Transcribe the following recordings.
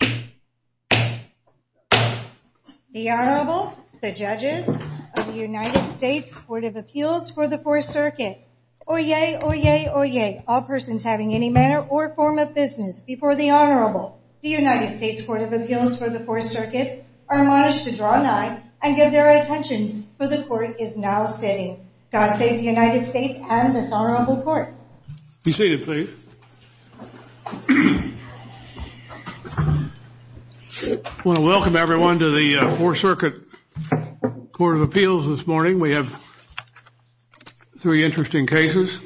The Honorable, the Judges of the United States Court of Appeals for the Fourth Circuit. Oyez, oyez, oyez, all persons having any manner or form of business before the Honorable. The United States Court of Appeals for the Fourth Circuit are admonished to draw a nine and give their attention, for the Court is now sitting. God save the United States and this Honorable Court. Be seated, please. I want to welcome everyone to the Fourth Circuit Court of Appeals this morning. We have three interesting cases.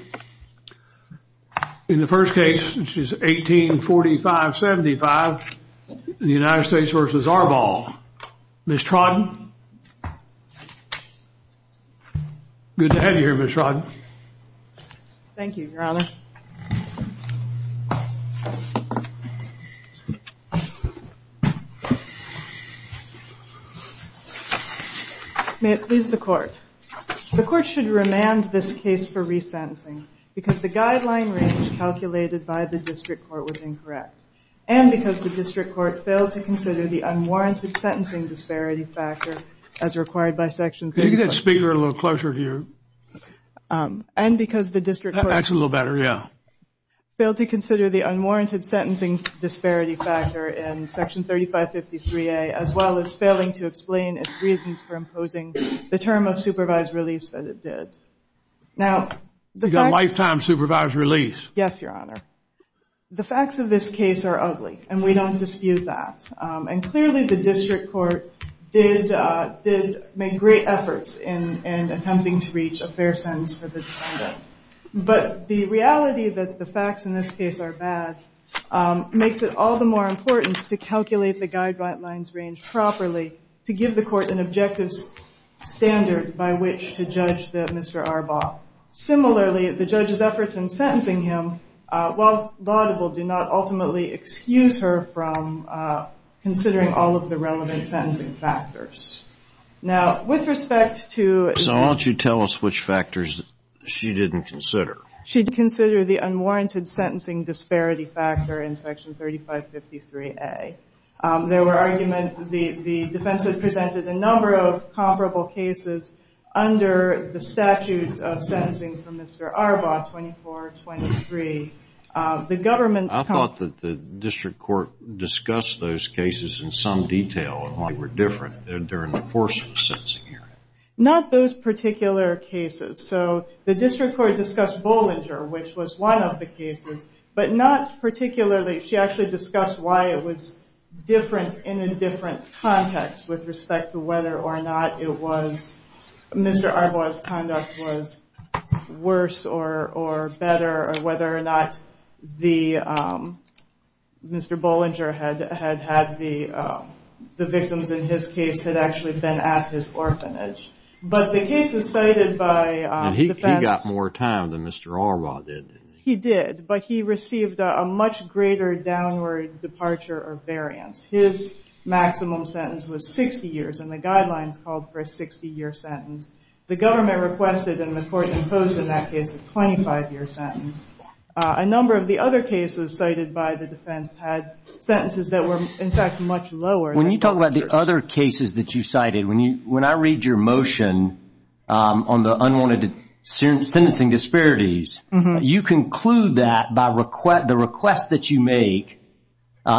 In the first case, which is 1845-75, the United States v. Arbaugh. Ms. Trodden? Thank you, Your Honor. May it please the Court. The Court should remand this case for resentencing because the guideline range calculated by the District Court was incorrect and because the District Court failed to consider the unwarranted sentencing disparity factor as required by Section 3. Can you get that speaker a little closer to you? And because the District Court... That's a little better, yeah. Failed to consider the unwarranted sentencing disparity factor in Section 3553A, as well as failing to explain its reasons for imposing the term of supervised release as it did. Now, the fact... Lifetime supervised release. Yes, Your Honor. The facts of this case are ugly, and we don't dispute that. And clearly the District Court did make great efforts in attempting to reach a fair sentence for the defendant. But the reality that the facts in this case are bad makes it all the more important to calculate the guideline's range properly to give the Court an objective standard by which to judge Mr. Arbaugh. Similarly, the judge's efforts in sentencing him, while laudable, do not ultimately excuse her from considering all of the relevant sentencing factors. Now, with respect to... So why don't you tell us which factors she didn't consider? She didn't consider the unwarranted sentencing disparity factor in Section 3553A. There were arguments... The defense had presented a number of comparable cases under the statute of sentencing for Mr. Arbaugh, 2423. The government's... I thought that the District Court discussed those cases in some detail and why they were different during the course of the sentencing hearing. Not those particular cases. So the District Court discussed Bollinger, which was one of the cases, but not particularly... She actually discussed why it was different in a different context with respect to whether or not it was... Mr. Arbaugh's conduct was worse or better, or whether or not Mr. Bollinger had had the victims in his case had actually been at his orphanage. But the cases cited by defense... And he got more time than Mr. Arbaugh did. He did, but he received a much greater downward departure of variance. His maximum sentence was 60 years, and the guidelines called for a 60-year sentence. The government requested, and the court imposed in that case, a 25-year sentence. A number of the other cases cited by the defense had sentences that were, in fact, much lower. When you talk about the other cases that you cited, when I read your motion on the unwarranted sentencing disparities, you conclude that by the request that you make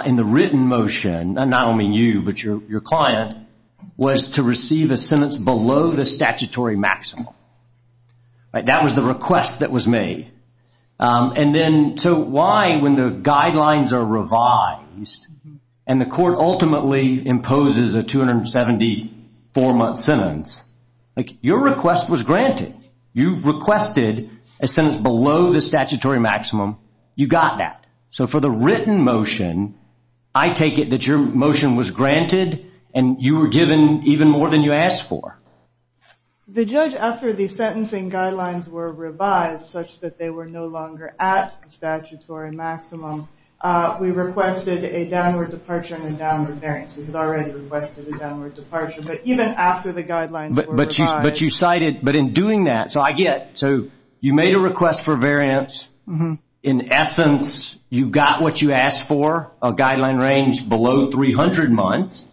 in the written motion, and I don't mean you, but your client, was to receive a sentence below the statutory maximum. That was the request that was made. And then so why, when the guidelines are revised, and the court ultimately imposes a 274-month sentence, your request was granted. You requested a sentence below the statutory maximum. You got that. So for the written motion, I take it that your motion was granted, and you were given even more than you asked for. The judge, after the sentencing guidelines were revised such that they were no longer at the statutory maximum, we requested a downward departure and a downward variance. We had already requested a downward departure, but even after the guidelines were revised... But you cited, but in doing that, so I get, so you made a request for variance. In essence, you got what you asked for, a guideline range below 300 months.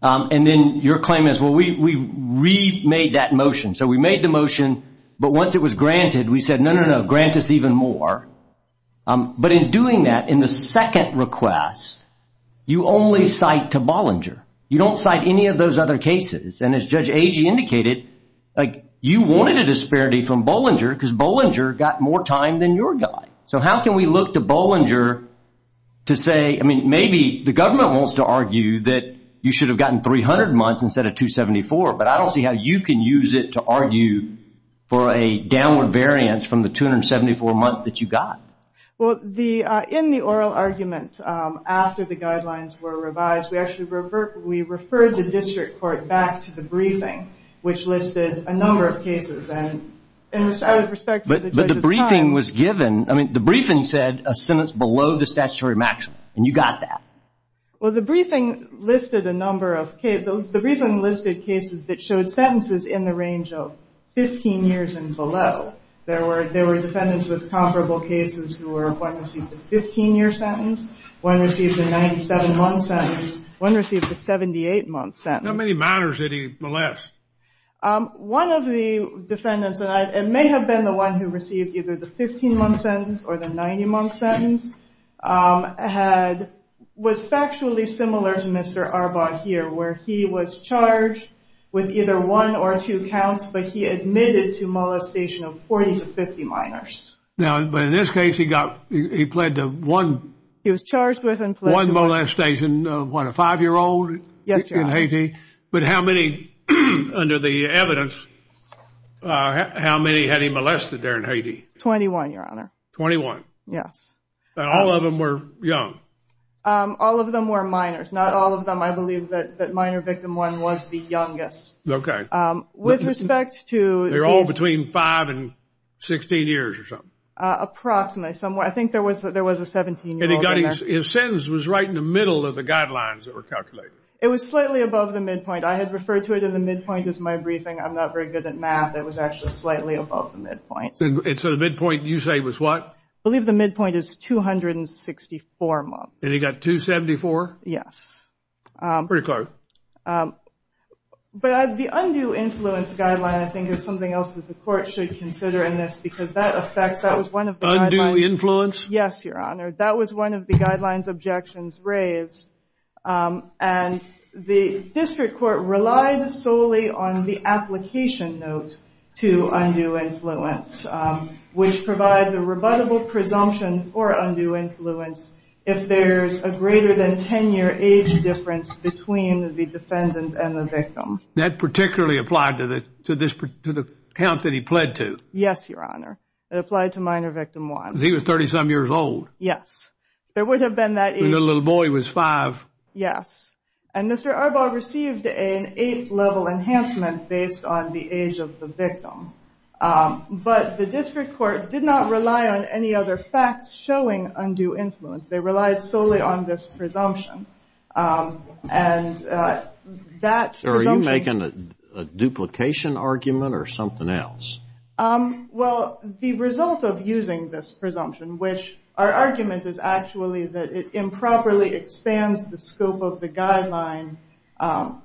And then your claim is, well, we remade that motion. So we made the motion, but once it was granted, we said, no, no, no, grant us even more. But in doing that, in the second request, you only cite to Bollinger. You don't cite any of those other cases. And as Judge Agee indicated, you wanted a disparity from Bollinger because Bollinger got more time than your guy. So how can we look to Bollinger to say, I mean, maybe the government wants to argue that you should have gotten 300 months instead of 274, but I don't see how you can use it to argue for a downward variance from the 274 months that you got. Well, in the oral argument, after the guidelines were revised, we actually referred the district court back to the briefing, which listed a number of cases. But the briefing was given, I mean, the briefing said a sentence below the statutory maximum, and you got that. Well, the briefing listed a number of cases. The briefing listed cases that showed sentences in the range of 15 years and below. There were defendants with comparable cases who were, one received a 15-year sentence, one received a 97-month sentence, one received a 78-month sentence. How many matters did he molest? One of the defendants, and it may have been the one who received either the 15-month sentence or the 90-month sentence, was factually similar to Mr. Arbaugh here, where he was charged with either one or two counts, but he admitted to molestation of 40 to 50 minors. Now, but in this case, he got, he pled to one. He was charged with and pled to one. One molestation of what, a five-year-old? Yes, Your Honor. But how many, under the evidence, how many had he molested there in Haiti? 21, Your Honor. 21? Yes. And all of them were young? All of them were minors, not all of them. I believe that minor victim one was the youngest. Okay. With respect to these- They were all between five and 16 years or something? Approximately. I think there was a 17-year-old in there. And his sentence was right in the middle of the guidelines that were calculated? It was slightly above the midpoint. I had referred to it in the midpoint as my briefing. I'm not very good at math. It was actually slightly above the midpoint. And so the midpoint, you say, was what? I believe the midpoint is 264 months. And he got 274? Yes. Pretty close. But the undue influence guideline, I think, is something else that the court should consider in this because that affects- Undue influence? Yes, Your Honor. That was one of the guidelines objections raised. And the district court relied solely on the application note to undue influence, which provides a rebuttable presumption for undue influence if there's a greater than 10-year age difference between the defendant and the victim. That particularly applied to the count that he pled to? Yes, Your Honor. It applied to minor victim one. He was 30-some years old. Yes. There would have been that age. The little boy was five. Yes. But the district court did not rely on any other facts showing undue influence. They relied solely on this presumption. And that- Are you making a duplication argument or something else? Well, the result of using this presumption, which our argument is actually that it improperly expands the scope of the guideline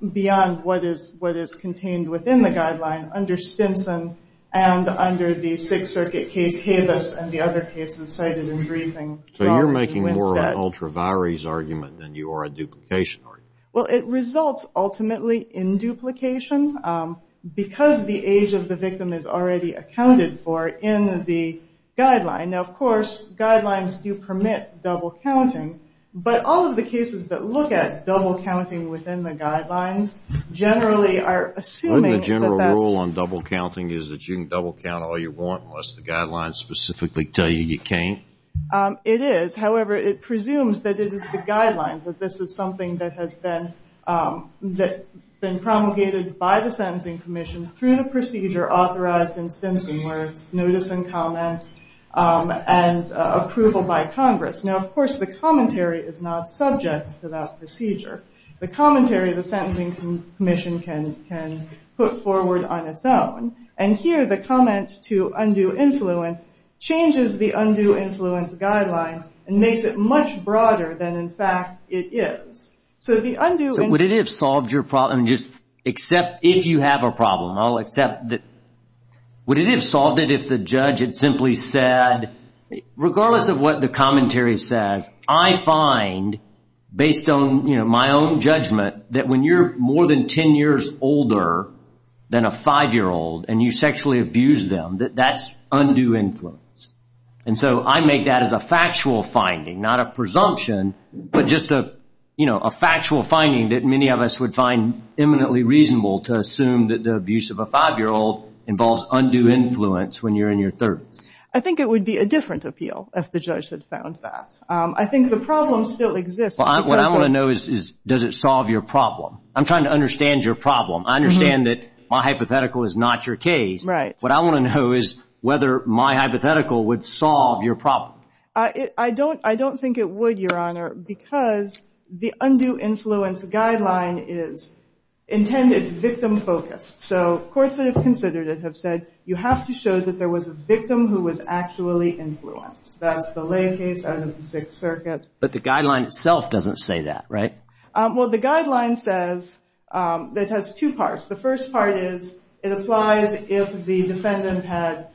beyond what is contained within the guideline under Stinson and under the Sixth Circuit case Cavus and the other cases cited in the briefing. So you're making more of an ultra-varies argument than you are a duplication argument? Well, it results ultimately in duplication because the age of the victim is already accounted for in the guideline. Now, of course, guidelines do permit double counting, but all of the cases that look at double counting within the guidelines generally are assuming that that's- Wouldn't the general rule on double counting is that you can double count all you want unless the guidelines specifically tell you you can't? It is. However, it presumes that it is the guidelines, that this is something that has been promulgated by the Sentencing Commission through the procedure authorized in Stinson where it's notice and comment and approval by Congress. Now, of course, the commentary is not subject to that procedure. The commentary, the Sentencing Commission can put forward on its own. And here, the comment to undue influence changes the undue influence guideline and makes it much broader than, in fact, it is. So the undue- So would it have solved your problem? Just accept if you have a problem. I'll accept that- Would it have solved it if the judge had simply said, regardless of what the commentary says, I find, based on my own judgment, that when you're more than 10 years older than a 5-year-old and you sexually abuse them, that that's undue influence. And so I make that as a factual finding, not a presumption, but just a factual finding that many of us would find eminently reasonable to assume that the abuse of a 5-year-old involves undue influence when you're in your 30s. I think it would be a different appeal if the judge had found that. I think the problem still exists. What I want to know is, does it solve your problem? I'm trying to understand your problem. I understand that my hypothetical is not your case. Right. What I want to know is whether my hypothetical would solve your problem. I don't think it would, Your Honor, because the undue influence guideline is intended, it's victim-focused. So courts that have considered it have said, you have to show that there was a victim who was actually influenced. That's the lay case out of the Sixth Circuit. But the guideline itself doesn't say that, right? Well, the guideline says, it has two parts. The first part is it applies if the defendant had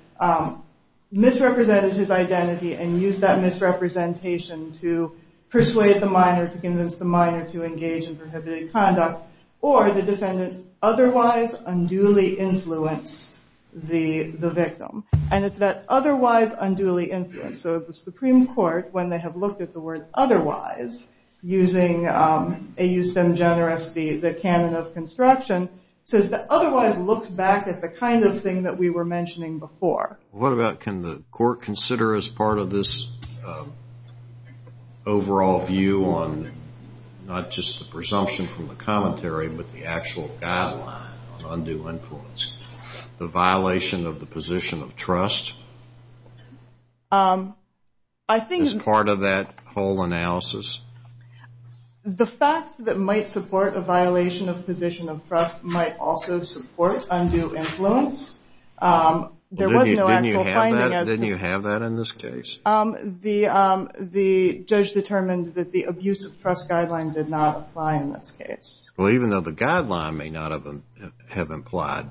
misrepresented his identity and used that misrepresentation to persuade the minor, to convince the minor to engage in prohibited conduct, or the defendant otherwise unduly influenced the victim. And it's that otherwise unduly influence. So the Supreme Court, when they have looked at the word otherwise, using A.U. Stem Generis, the canon of construction, says that otherwise looks back at the kind of thing that we were mentioning before. What about can the court consider as part of this overall view on not just the presumption from the commentary, but the actual guideline on undue influence, the violation of the position of trust as part of that whole analysis? The fact that it might support a violation of position of trust might also support undue influence. Didn't you have that in this case? The judge determined that the abuse of trust guideline did not apply in this case. Well, even though the guideline may not have implied,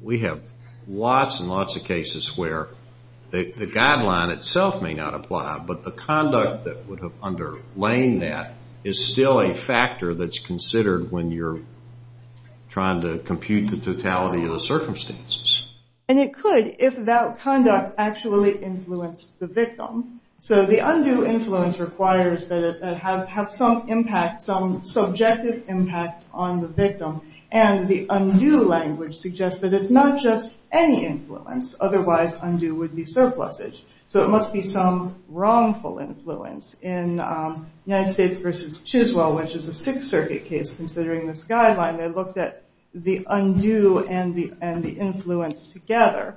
we have lots and lots of cases where the guideline itself may not apply, but the conduct that would have underlain that is still a factor that's considered when you're trying to compute the totality of the circumstances. And it could if that conduct actually influenced the victim. So the undue influence requires that it has some impact, some subjective impact on the victim, and the undue language suggests that it's not just any influence, otherwise undue would be surplusage. So it must be some wrongful influence. In United States v. Chiswell, which is a Sixth Circuit case, considering this guideline, they looked at the undue and the influence together.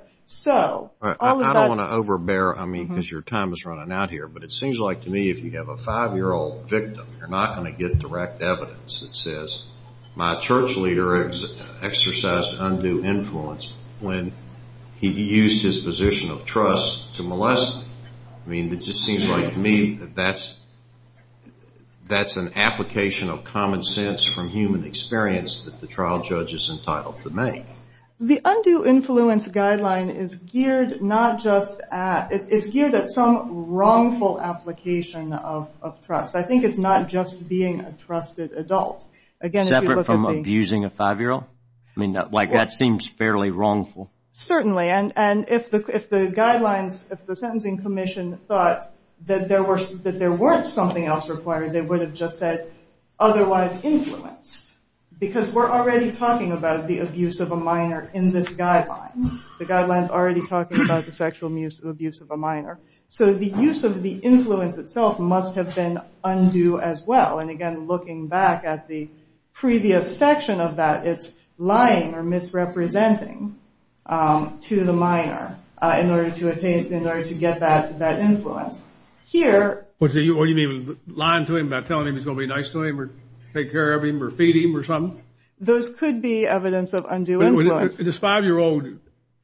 I don't want to overbear, I mean, because your time is running out here, but it seems like to me if you have a five-year-old victim, you're not going to get direct evidence that says, my church leader exercised undue influence when he used his position of trust to molest me. I mean, it just seems like to me that that's an application of common sense from human experience that the trial judge is entitled to make. The undue influence guideline is geared not just at, it's geared at some wrongful application of trust. I think it's not just being a trusted adult. Separate from abusing a five-year-old? I mean, that seems fairly wrongful. Certainly, and if the guidelines, if the Sentencing Commission thought that there weren't something else required, they would have just said, otherwise influenced. Because we're already talking about the abuse of a minor in this guideline. The guideline's already talking about the sexual abuse of a minor. So the use of the influence itself must have been undue as well. And again, looking back at the previous section of that, it's lying or misrepresenting to the minor in order to get that influence. What do you mean? Lying to him about telling him he's going to be nice to him or take care of him or feed him or something? Those could be evidence of undue influence. This five-year-old,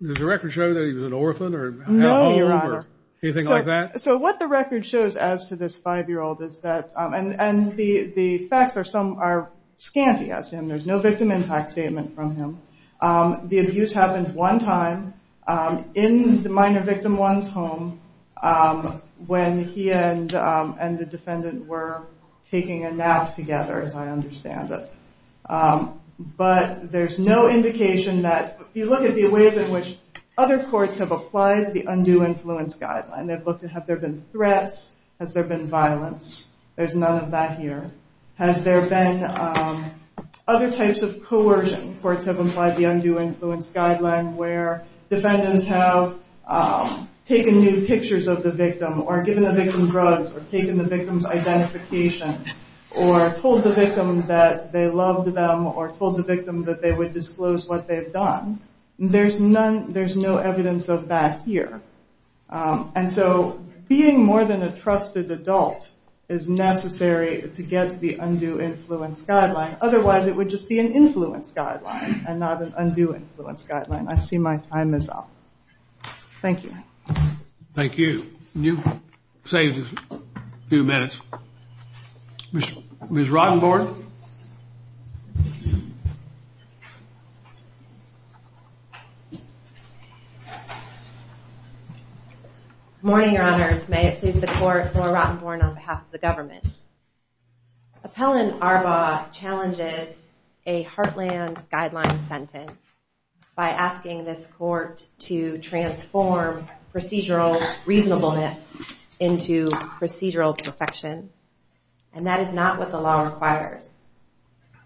does the record show that he was an orphan or had a home? No, Your Honor. Anything like that? So what the record shows as to this five-year-old is that, and the facts are scanty as to him. There's no victim impact statement from him. The abuse happened one time in the minor victim one's home when he and the defendant were taking a nap together, as I understand it. But there's no indication that, if you look at the ways in which other courts have applied the undue influence guideline, they've looked at have there been threats, has there been violence. There's none of that here. Has there been other types of coercion? Courts have applied the undue influence guideline where defendants have taken new pictures of the victim or given the victim drugs or taken the victim's identification or told the victim that they loved them or told the victim that they would disclose what they've done. There's no evidence of that here. And so being more than a trusted adult is necessary to get the undue influence guideline. Otherwise, it would just be an influence guideline and not an undue influence guideline. I see my time is up. Thank you. Thank you. You've saved a few minutes. Ms. Rottenborg? Good morning, Your Honors. May it please the Court, Laura Rottenborg on behalf of the government. Appellant Arbaugh challenges a Heartland Guideline sentence by asking this court to transform procedural reasonableness into procedural perfection, and that is not what the law requires.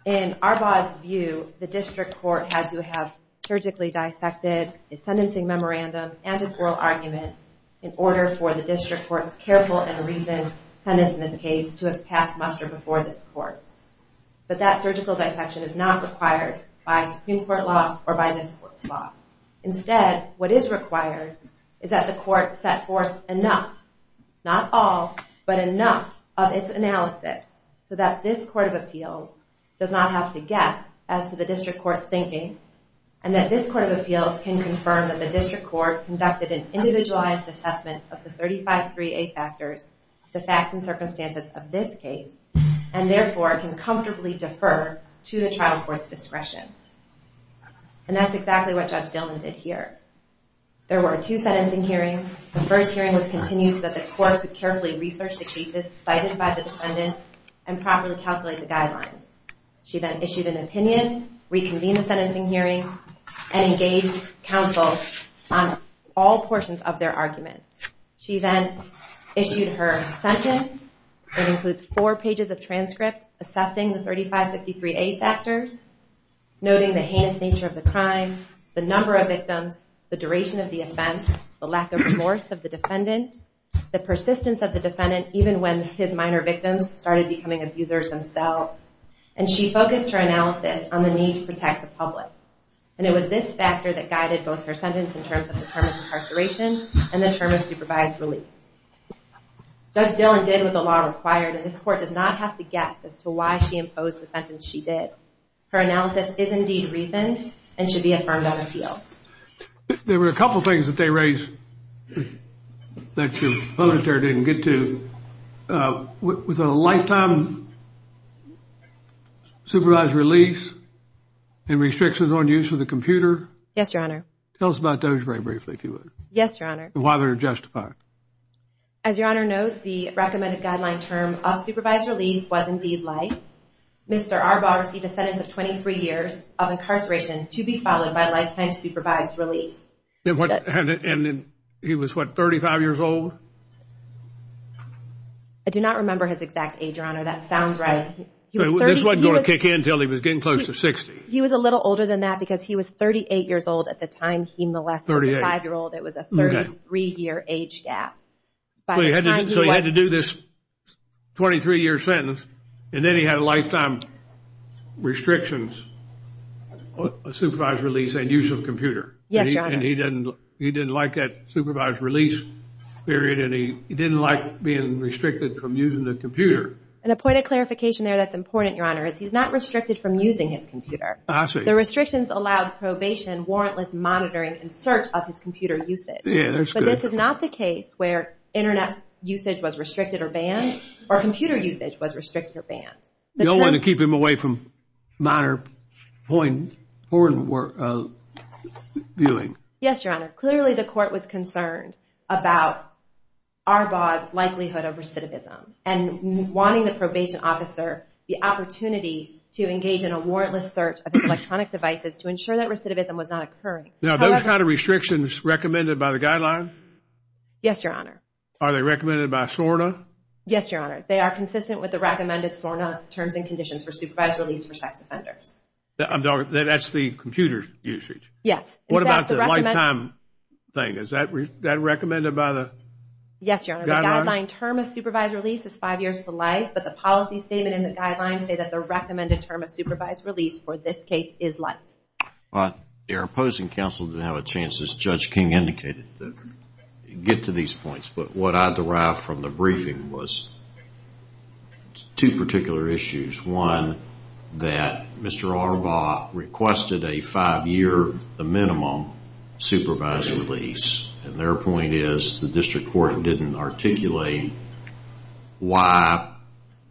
In Arbaugh's view, the district court had to have surgically dissected his sentencing memorandum and his oral argument in order for the district court's careful and reasoned sentence in this case to have passed muster before this court. But that surgical dissection is not required by Supreme Court law or by this court's law. Instead, what is required is that the court set forth enough, not all, but enough of its analysis so that this court of appeals does not have to guess as to the district court's thinking and that this court of appeals can confirm that the district court conducted an individualized assessment of the 35-3A factors to the facts and circumstances of this case and therefore can comfortably defer to the trial court's discretion. And that's exactly what Judge Dillman did here. There were two sentencing hearings. The first hearing was continued so that the court could carefully research the cases cited by the defendant and properly calculate the guidelines. She then issued an opinion, reconvened the sentencing hearing, and engaged counsel on all portions of their argument. She then issued her sentence. It includes four pages of transcript assessing the 35-53A factors, noting the heinous nature of the crime, the number of victims, the duration of the offense, the lack of remorse of the defendant, the persistence of the defendant even when his minor victims started becoming abusers themselves. And she focused her analysis on the need to protect the public. And it was this factor that guided both her sentence in terms of the term of incarceration and the term of supervised release. Judge Dillman did what the law required, and this court does not have to guess as to why she imposed the sentence she did. Her analysis is indeed reasoned and should be affirmed on appeal. There were a couple of things that they raised that your opponent there didn't get to. Was it a lifetime supervised release and restrictions on use of the computer? Yes, Your Honor. Tell us about those very briefly, if you would. Yes, Your Honor. And why they're justified. As Your Honor knows, the recommended guideline term of supervised release was indeed life. Mr. Arbaugh received a sentence of 23 years of incarceration to be followed by lifetime supervised release. And he was, what, 35 years old? I do not remember his exact age, Your Honor. That sounds right. This wasn't going to kick in until he was getting close to 60. He was a little older than that because he was 38 years old at the time he molested the 5-year-old. It was a 33-year age gap. So he had to do this 23-year sentence, Yes, Your Honor. And he didn't like that supervised release period, and he didn't like being restricted from using the computer. And a point of clarification there that's important, Your Honor, is he's not restricted from using his computer. I see. The restrictions allowed probation, warrantless monitoring, and search of his computer usage. Yeah, that's good. But this is not the case where internet usage was restricted or banned or computer usage was restricted or banned. You don't want to keep him away from minor porn viewing. Yes, Your Honor. Clearly the court was concerned about Arbaugh's likelihood of recidivism and wanting the probation officer the opportunity to engage in a warrantless search of his electronic devices to ensure that recidivism was not occurring. Now, are those kind of restrictions recommended by the guideline? Yes, Your Honor. Are they recommended by SORNA? Yes, Your Honor. They are consistent with the recommended SORNA terms and conditions for supervised release for sex offenders. That's the computer usage? Yes. What about the lifetime thing? Is that recommended by the guideline? Yes, Your Honor. The guideline term of supervised release is five years to life, but the policy statement and the guideline say that the recommended term of supervised release for this case is life. Your opposing counsel didn't have a chance, as Judge King indicated, to get to these points. But what I derived from the briefing was two particular issues. One, that Mr. Arbaugh requested a five-year, the minimum, supervised release. And their point is the district court didn't articulate why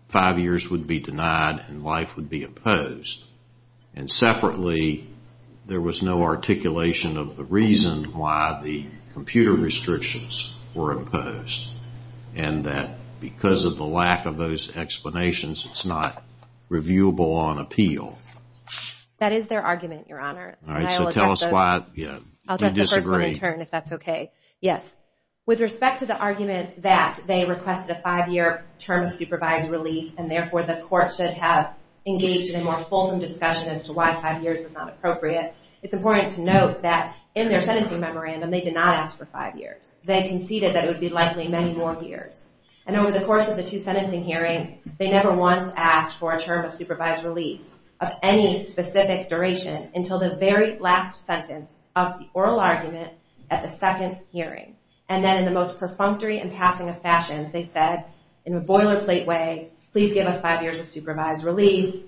five years would be denied and life would be opposed. And separately, there was no articulation of the reason why the computer restrictions were opposed. And that because of the lack of those explanations, it's not reviewable on appeal. That is their argument, Your Honor. All right, so tell us why you disagree. I'll address the first one in turn, if that's okay. Yes. With respect to the argument that they requested a five-year term of supervised release, and therefore the court should have engaged in a more fulsome discussion as to why five years was not appropriate, it's important to note that in their sentencing memorandum, they did not ask for five years. They conceded that it would be likely many more years. And over the course of the two sentencing hearings, they never once asked for a term of supervised release of any specific duration until the very last sentence of the oral argument at the second hearing. And then in the most perfunctory and passing of fashions, they said in a boilerplate way, please give us five years of supervised release,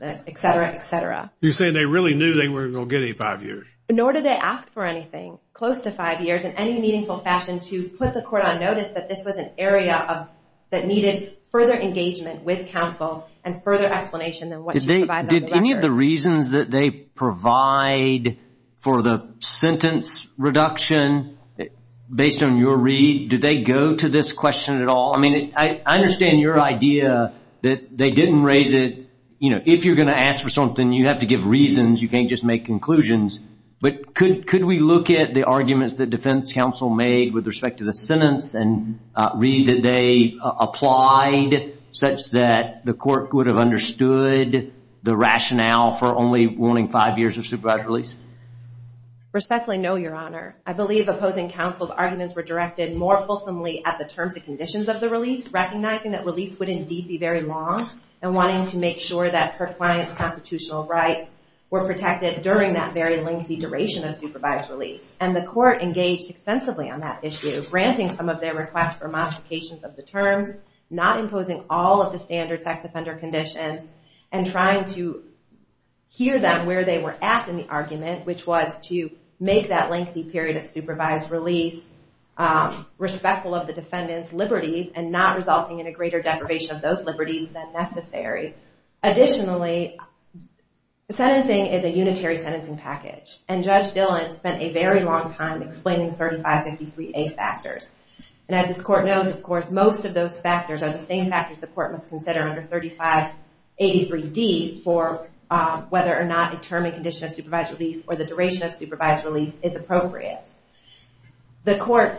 et cetera, et cetera. You're saying they really knew they weren't going to get any five years. Nor did they ask for anything close to five years in any meaningful fashion to put the court on notice that this was an area that needed further engagement with counsel and further explanation than what you provided on the record. Did any of the reasons that they provide for the sentence reduction, based on your read, did they go to this question at all? I mean, I understand your idea that they didn't raise it. You know, if you're going to ask for something, you have to give reasons. You can't just make conclusions. But could we look at the arguments that defense counsel made with respect to the sentence and read that they applied such that the court would have understood the rationale for only wanting five years of supervised release? Respectfully, no, Your Honor. I believe opposing counsel's arguments were directed more fulsomely at the terms and conditions of the release, recognizing that release would indeed be very long, and wanting to make sure that her client's constitutional rights were protected during that very lengthy duration of supervised release. And the court engaged extensively on that issue, granting some of their requests for modifications of the terms, not imposing all of the standard sex offender conditions, and trying to hear them where they were at in the argument, which was to make that lengthy period of supervised release respectful of the defendant's liberties and not resulting in a greater deprivation of those liberties than necessary. Additionally, sentencing is a unitary sentencing package, and Judge Dillon spent a very long time explaining 3553A factors. And as this court knows, of course, most of those factors are the same factors the court must consider under 3583D for whether or not a term and condition of supervised release or the duration of supervised release is appropriate. The court,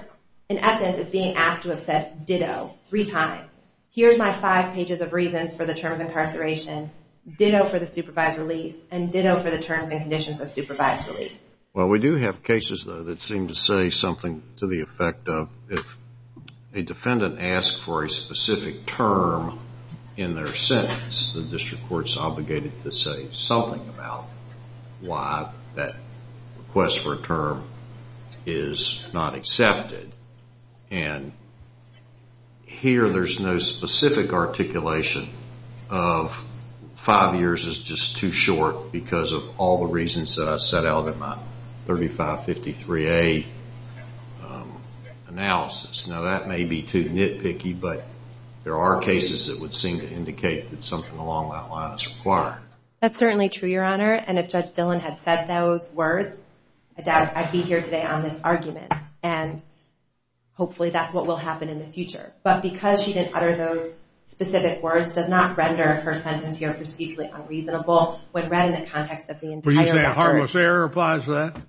in essence, is being asked to have said, ditto, three times, here's my five pages of reasons for the term of incarceration, ditto for the supervised release, and ditto for the terms and conditions of supervised release. Well, we do have cases, though, that seem to say something to the effect of if a defendant asks for a specific term in their sentence, the district court's obligated to say something about why that request for a term is not accepted. And here, there's no specific articulation of five years is just too short because of all the reasons that I set out in my 3553A analysis. Now, that may be too nitpicky, but there are cases that would seem to indicate that something along that line is required. That's certainly true, Your Honor, and if Judge Dillon had said those words, I doubt I'd be here today on this argument. And hopefully that's what will happen in the future. But because she didn't utter those specific words, does not render her sentence here procedurally unreasonable when read in the context of the entire record. Were you saying a harmless error applies to that?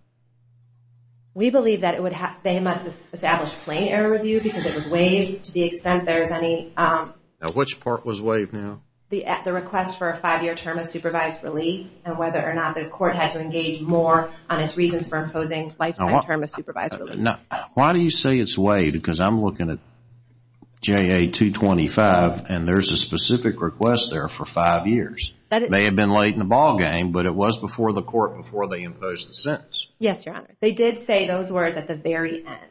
We believe that they must establish plain error review because it was waived to the extent there's any... Now, which part was waived now? The request for a five-year term of supervised release and whether or not the court had to engage more on its reasons for imposing lifetime term of supervised release. Now, why do you say it's waived? Because I'm looking at JA 225, and there's a specific request there for five years. It may have been late in the ballgame, but it was before the court before they imposed the sentence. Yes, Your Honor. They did say those words at the very end.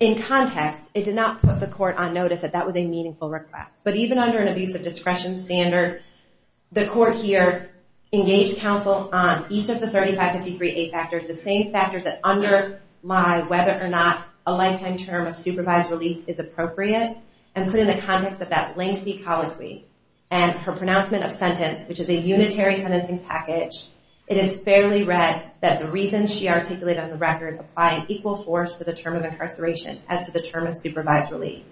In context, it did not put the court on notice that that was a meaningful request. But even under an abusive discretion standard, the court here engaged counsel on each of the 3553A factors, the same factors that underlie whether or not a lifetime term of supervised release is appropriate, and put in the context of that lengthy colloquy and her pronouncement of sentence, which is a unitary sentencing package, it is fairly read that the reasons she articulated on the record apply an equal force to the term of incarceration as to the term of supervised release.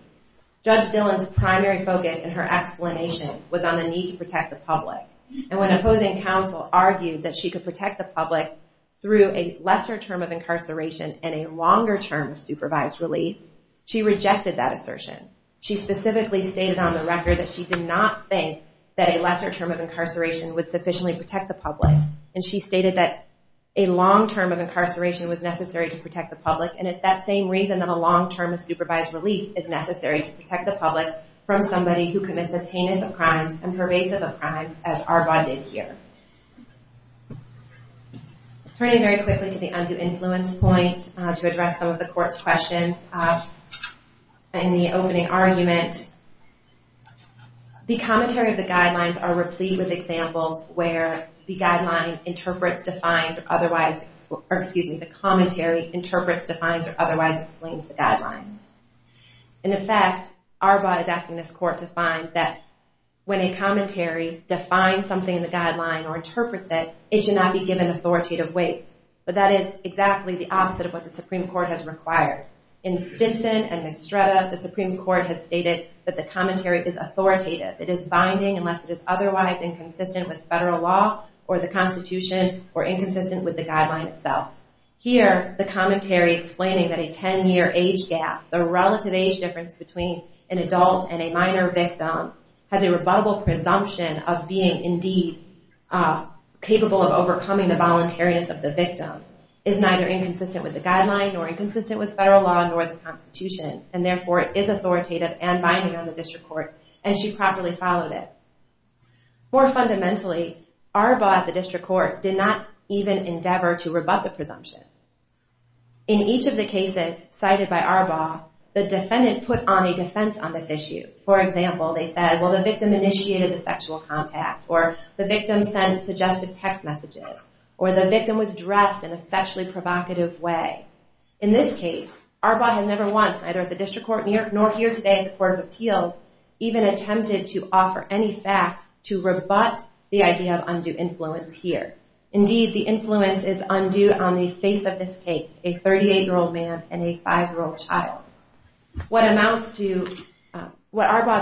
Judge Dillon's primary focus in her explanation was on the need to protect the public. And when opposing counsel argued that she could protect the public through a lesser term of incarceration and a longer term of supervised release, she rejected that assertion. She specifically stated on the record that she did not think that a lesser term of incarceration would sufficiently protect the public. And she stated that a long term of incarceration was necessary to protect the public, and it's that same reason that a long term of supervised release is necessary to protect the public from somebody who commits as heinous of crimes and pervasive of crimes as Arbaugh did here. Turning very quickly to the undue influence point to address some of the court's questions in the opening argument, the commentary of the guidelines are replete with examples where the guideline interprets, defines, or otherwise, or excuse me, the commentary interprets, defines, or otherwise explains the guidelines. In effect, Arbaugh is asking this court to find that when a commentary defines something in the guideline or interprets it, it should not be given authoritative weight. But that is exactly the opposite of what the Supreme Court has required. In Stinson and Estrada, the Supreme Court has stated that the commentary is authoritative. It is binding unless it is otherwise inconsistent with federal law or the Constitution or inconsistent with the guideline itself. Here, the commentary explaining that a 10-year age gap, the relative age difference between an adult and a minor victim has a rebuttable presumption of being indeed capable of overcoming the voluntariness of the victim, is neither inconsistent with the guideline nor inconsistent with federal law nor the Constitution. And therefore, it is authoritative and binding on the district court, and she properly followed it. More fundamentally, Arbaugh at the district court did not even endeavor to rebut the presumption. In each of the cases cited by Arbaugh, the defendant put on a defense on this issue. For example, they said, well, the victim initiated the sexual contact or the victim sent suggestive text messages or the victim was dressed in a sexually provocative way. In this case, Arbaugh has never once, neither at the district court in New York nor here today at the Court of Appeals, even attempted to offer any facts to rebut the idea of undue influence here. Indeed, the influence is undue on the face of this case, a 38-year-old man and a 5-year-old child. What Arbaugh's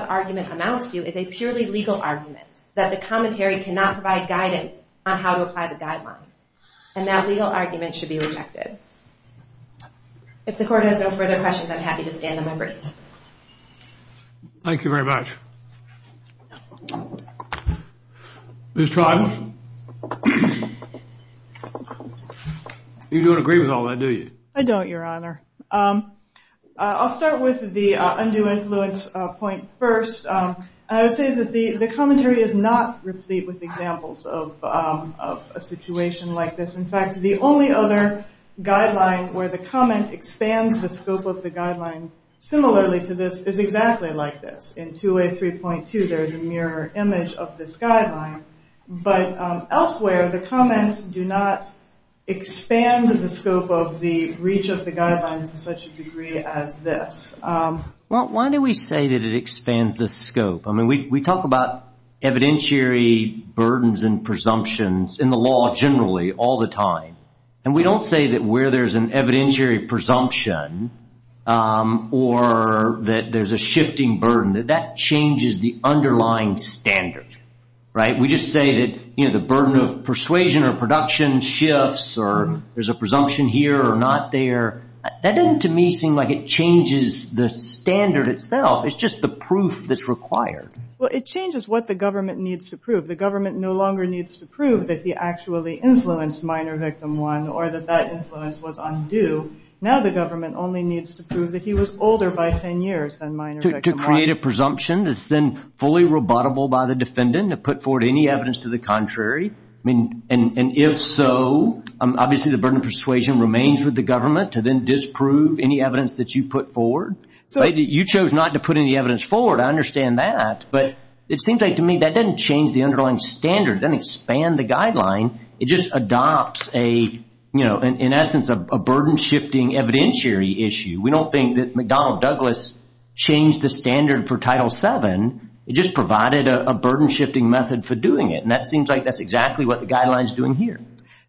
argument amounts to is a purely legal argument that the commentary cannot provide guidance on how to apply the guideline, and that legal argument should be rejected. If the Court has no further questions, I'm happy to stand and then breathe. Thank you very much. Ms. Trible? You don't agree with all that, do you? I don't, Your Honor. I'll start with the undue influence point first. I would say that the commentary is not replete with examples of a situation like this. In fact, the only other guideline where the comment expands the scope of the guideline similarly to this is exactly like this. In 2A3.2, there is a mirror image of this guideline. But elsewhere, the comments do not expand the scope of the reach of the guidelines to such a degree as this. Why do we say that it expands the scope? I mean, we talk about evidentiary burdens and presumptions in the law generally all the time, and we don't say that where there's an evidentiary presumption or that there's a shifting burden, that that changes the underlying standard, right? We just say that the burden of persuasion or production shifts or there's a presumption here or not there. That doesn't to me seem like it changes the standard itself. It's just the proof that's required. Well, it changes what the government needs to prove. The government no longer needs to prove that he actually influenced minor victim one or that that influence was undue. Now the government only needs to prove that he was older by 10 years than minor victim one. To create a presumption that's then fully rebuttable by the defendant to put forward any evidence to the contrary. And if so, obviously the burden of persuasion remains with the government to then disprove any evidence that you put forward. You chose not to put any evidence forward. I understand that. But it seems like to me that doesn't change the underlying standard. Doesn't expand the guideline. It just adopts a, you know, in essence a burden shifting evidentiary issue. We don't think that McDonnell Douglas changed the standard for Title VII. It just provided a burden shifting method for doing it. And that seems like that's exactly what the guideline is doing here.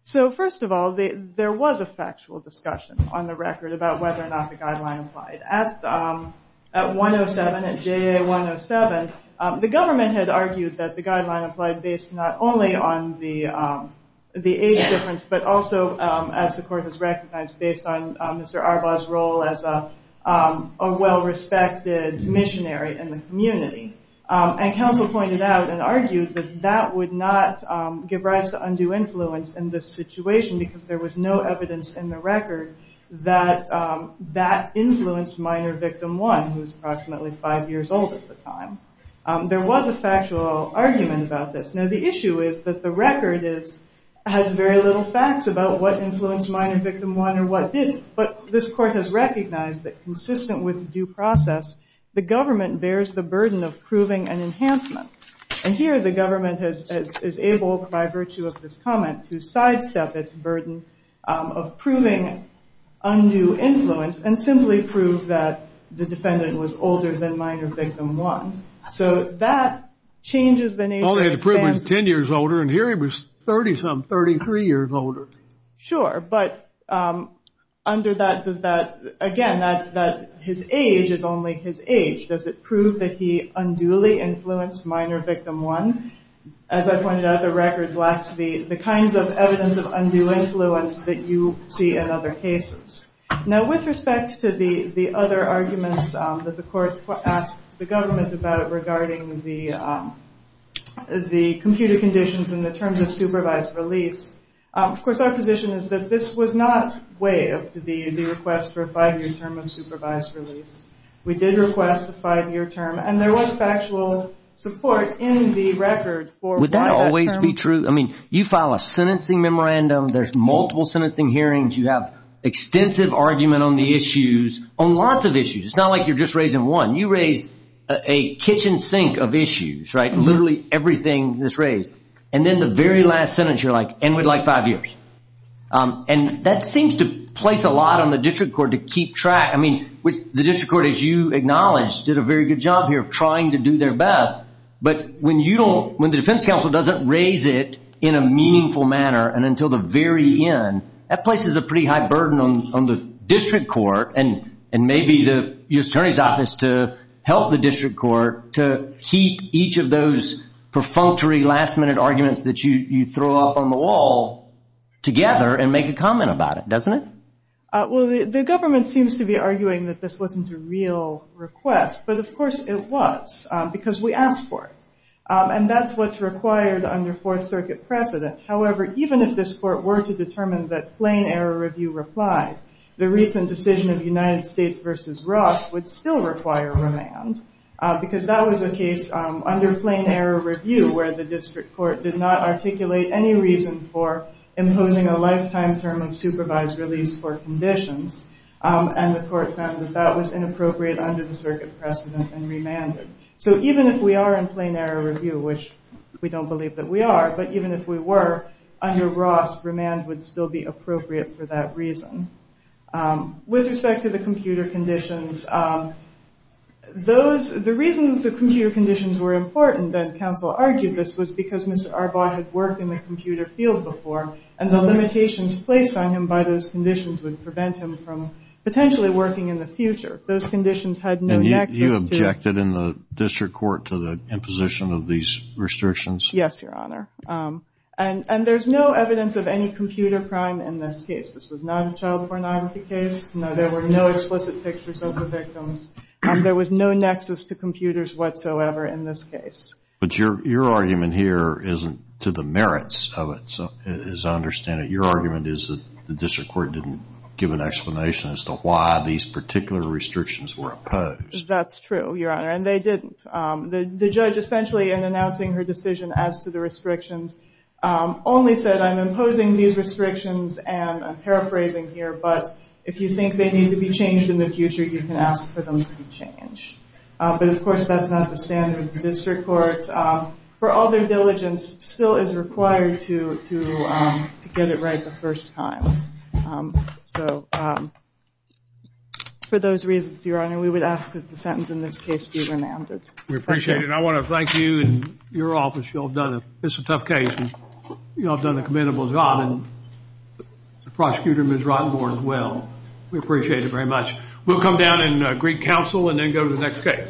So first of all, there was a factual discussion on the record about whether or not the guideline applied. At 107, at JA107, the government had argued that the guideline applied based not only on the age difference, but also as the court has recognized based on Mr. Arbaugh's role as a well-respected missionary in the community. And counsel pointed out and argued that that would not give rise to undue influence in this situation because there was no evidence in the record that that influenced minor victim one, who's approximately five years old at the time. There was a factual argument about this. Now the issue is that the record has very little facts about what influenced minor victim one or what didn't. But this court has recognized that consistent with due process, the government bears the burden of proving an enhancement. And here the government is able by virtue of this comment to sidestep its burden of proving undue influence and simply prove that the defendant was older than minor victim one. So that changes the nature of the stance. Well, they had to prove he was 10 years older, and here he was 30-some, 33 years older. Sure, but under that, again, his age is only his age. Does it prove that he unduly influenced minor victim one? As I pointed out, the record lacks the kinds of evidence of undue influence that you see in other cases. Now with respect to the other arguments that the court asked the government about regarding the computer conditions and the terms of supervised release, of course, our position is that this was not way of the request for a five-year term of supervised release. We did request a five-year term, and there was factual support in the record for why that term. Would that always be true? I mean, you file a sentencing memorandum. There's multiple sentencing hearings. You have extensive argument on the issues, on lots of issues. It's not like you're just raising one. You raise a kitchen sink of issues, right, literally everything that's raised. And then the very last sentence, you're like, and we'd like five years. And that seems to place a lot on the district court to keep track. I mean, the district court, as you acknowledged, did a very good job here of trying to do their best. But when the defense counsel doesn't raise it in a meaningful manner and until the very end, that places a pretty high burden on the district court and maybe the attorney's office to help the district court to keep each of those perfunctory, last-minute arguments that you throw up on the wall together and make a comment about it, doesn't it? Well, the government seems to be arguing that this wasn't a real request. But, of course, it was because we asked for it. And that's what's required under Fourth Circuit precedent. However, even if this court were to determine that plain error review replied, the recent decision of United States v. Ross would still require remand because that was a case under plain error review where the district court did not articulate any reason for imposing a lifetime term of supervised release for conditions. And the court found that that was inappropriate under the circuit precedent and remanded. So even if we are in plain error review, which we don't believe that we are, but even if we were, under Ross, remand would still be appropriate for that reason. With respect to the computer conditions, the reason that the computer conditions were important, and counsel argued this, was because Mr. Arbaugh had worked in the computer field before and the limitations placed on him by those conditions would prevent him from potentially working in the future. Those conditions had no access to- And you objected in the district court to the imposition of these restrictions? Yes, Your Honor. And there's no evidence of any computer crime in this case. This was not a child pornography case. There were no explicit pictures of the victims. There was no nexus to computers whatsoever in this case. But your argument here isn't to the merits of it, as I understand it. Your argument is that the district court didn't give an explanation as to why these particular restrictions were opposed. That's true, Your Honor, and they didn't. The judge, essentially, in announcing her decision as to the restrictions, only said, I'm imposing these restrictions, and I'm paraphrasing here, but if you think they need to be changed in the future, you can ask for them to be changed. But, of course, that's not the standard of the district court. For all their diligence, still is required to get it right the first time. So for those reasons, Your Honor, we would ask that the sentence in this case be remanded. We appreciate it. I want to thank you and your office. It's a tough case, and you all have done a commendable job, and the prosecutor, Ms. Rottenborg, as well. We appreciate it very much. We'll come down and greet counsel and then go to the next case.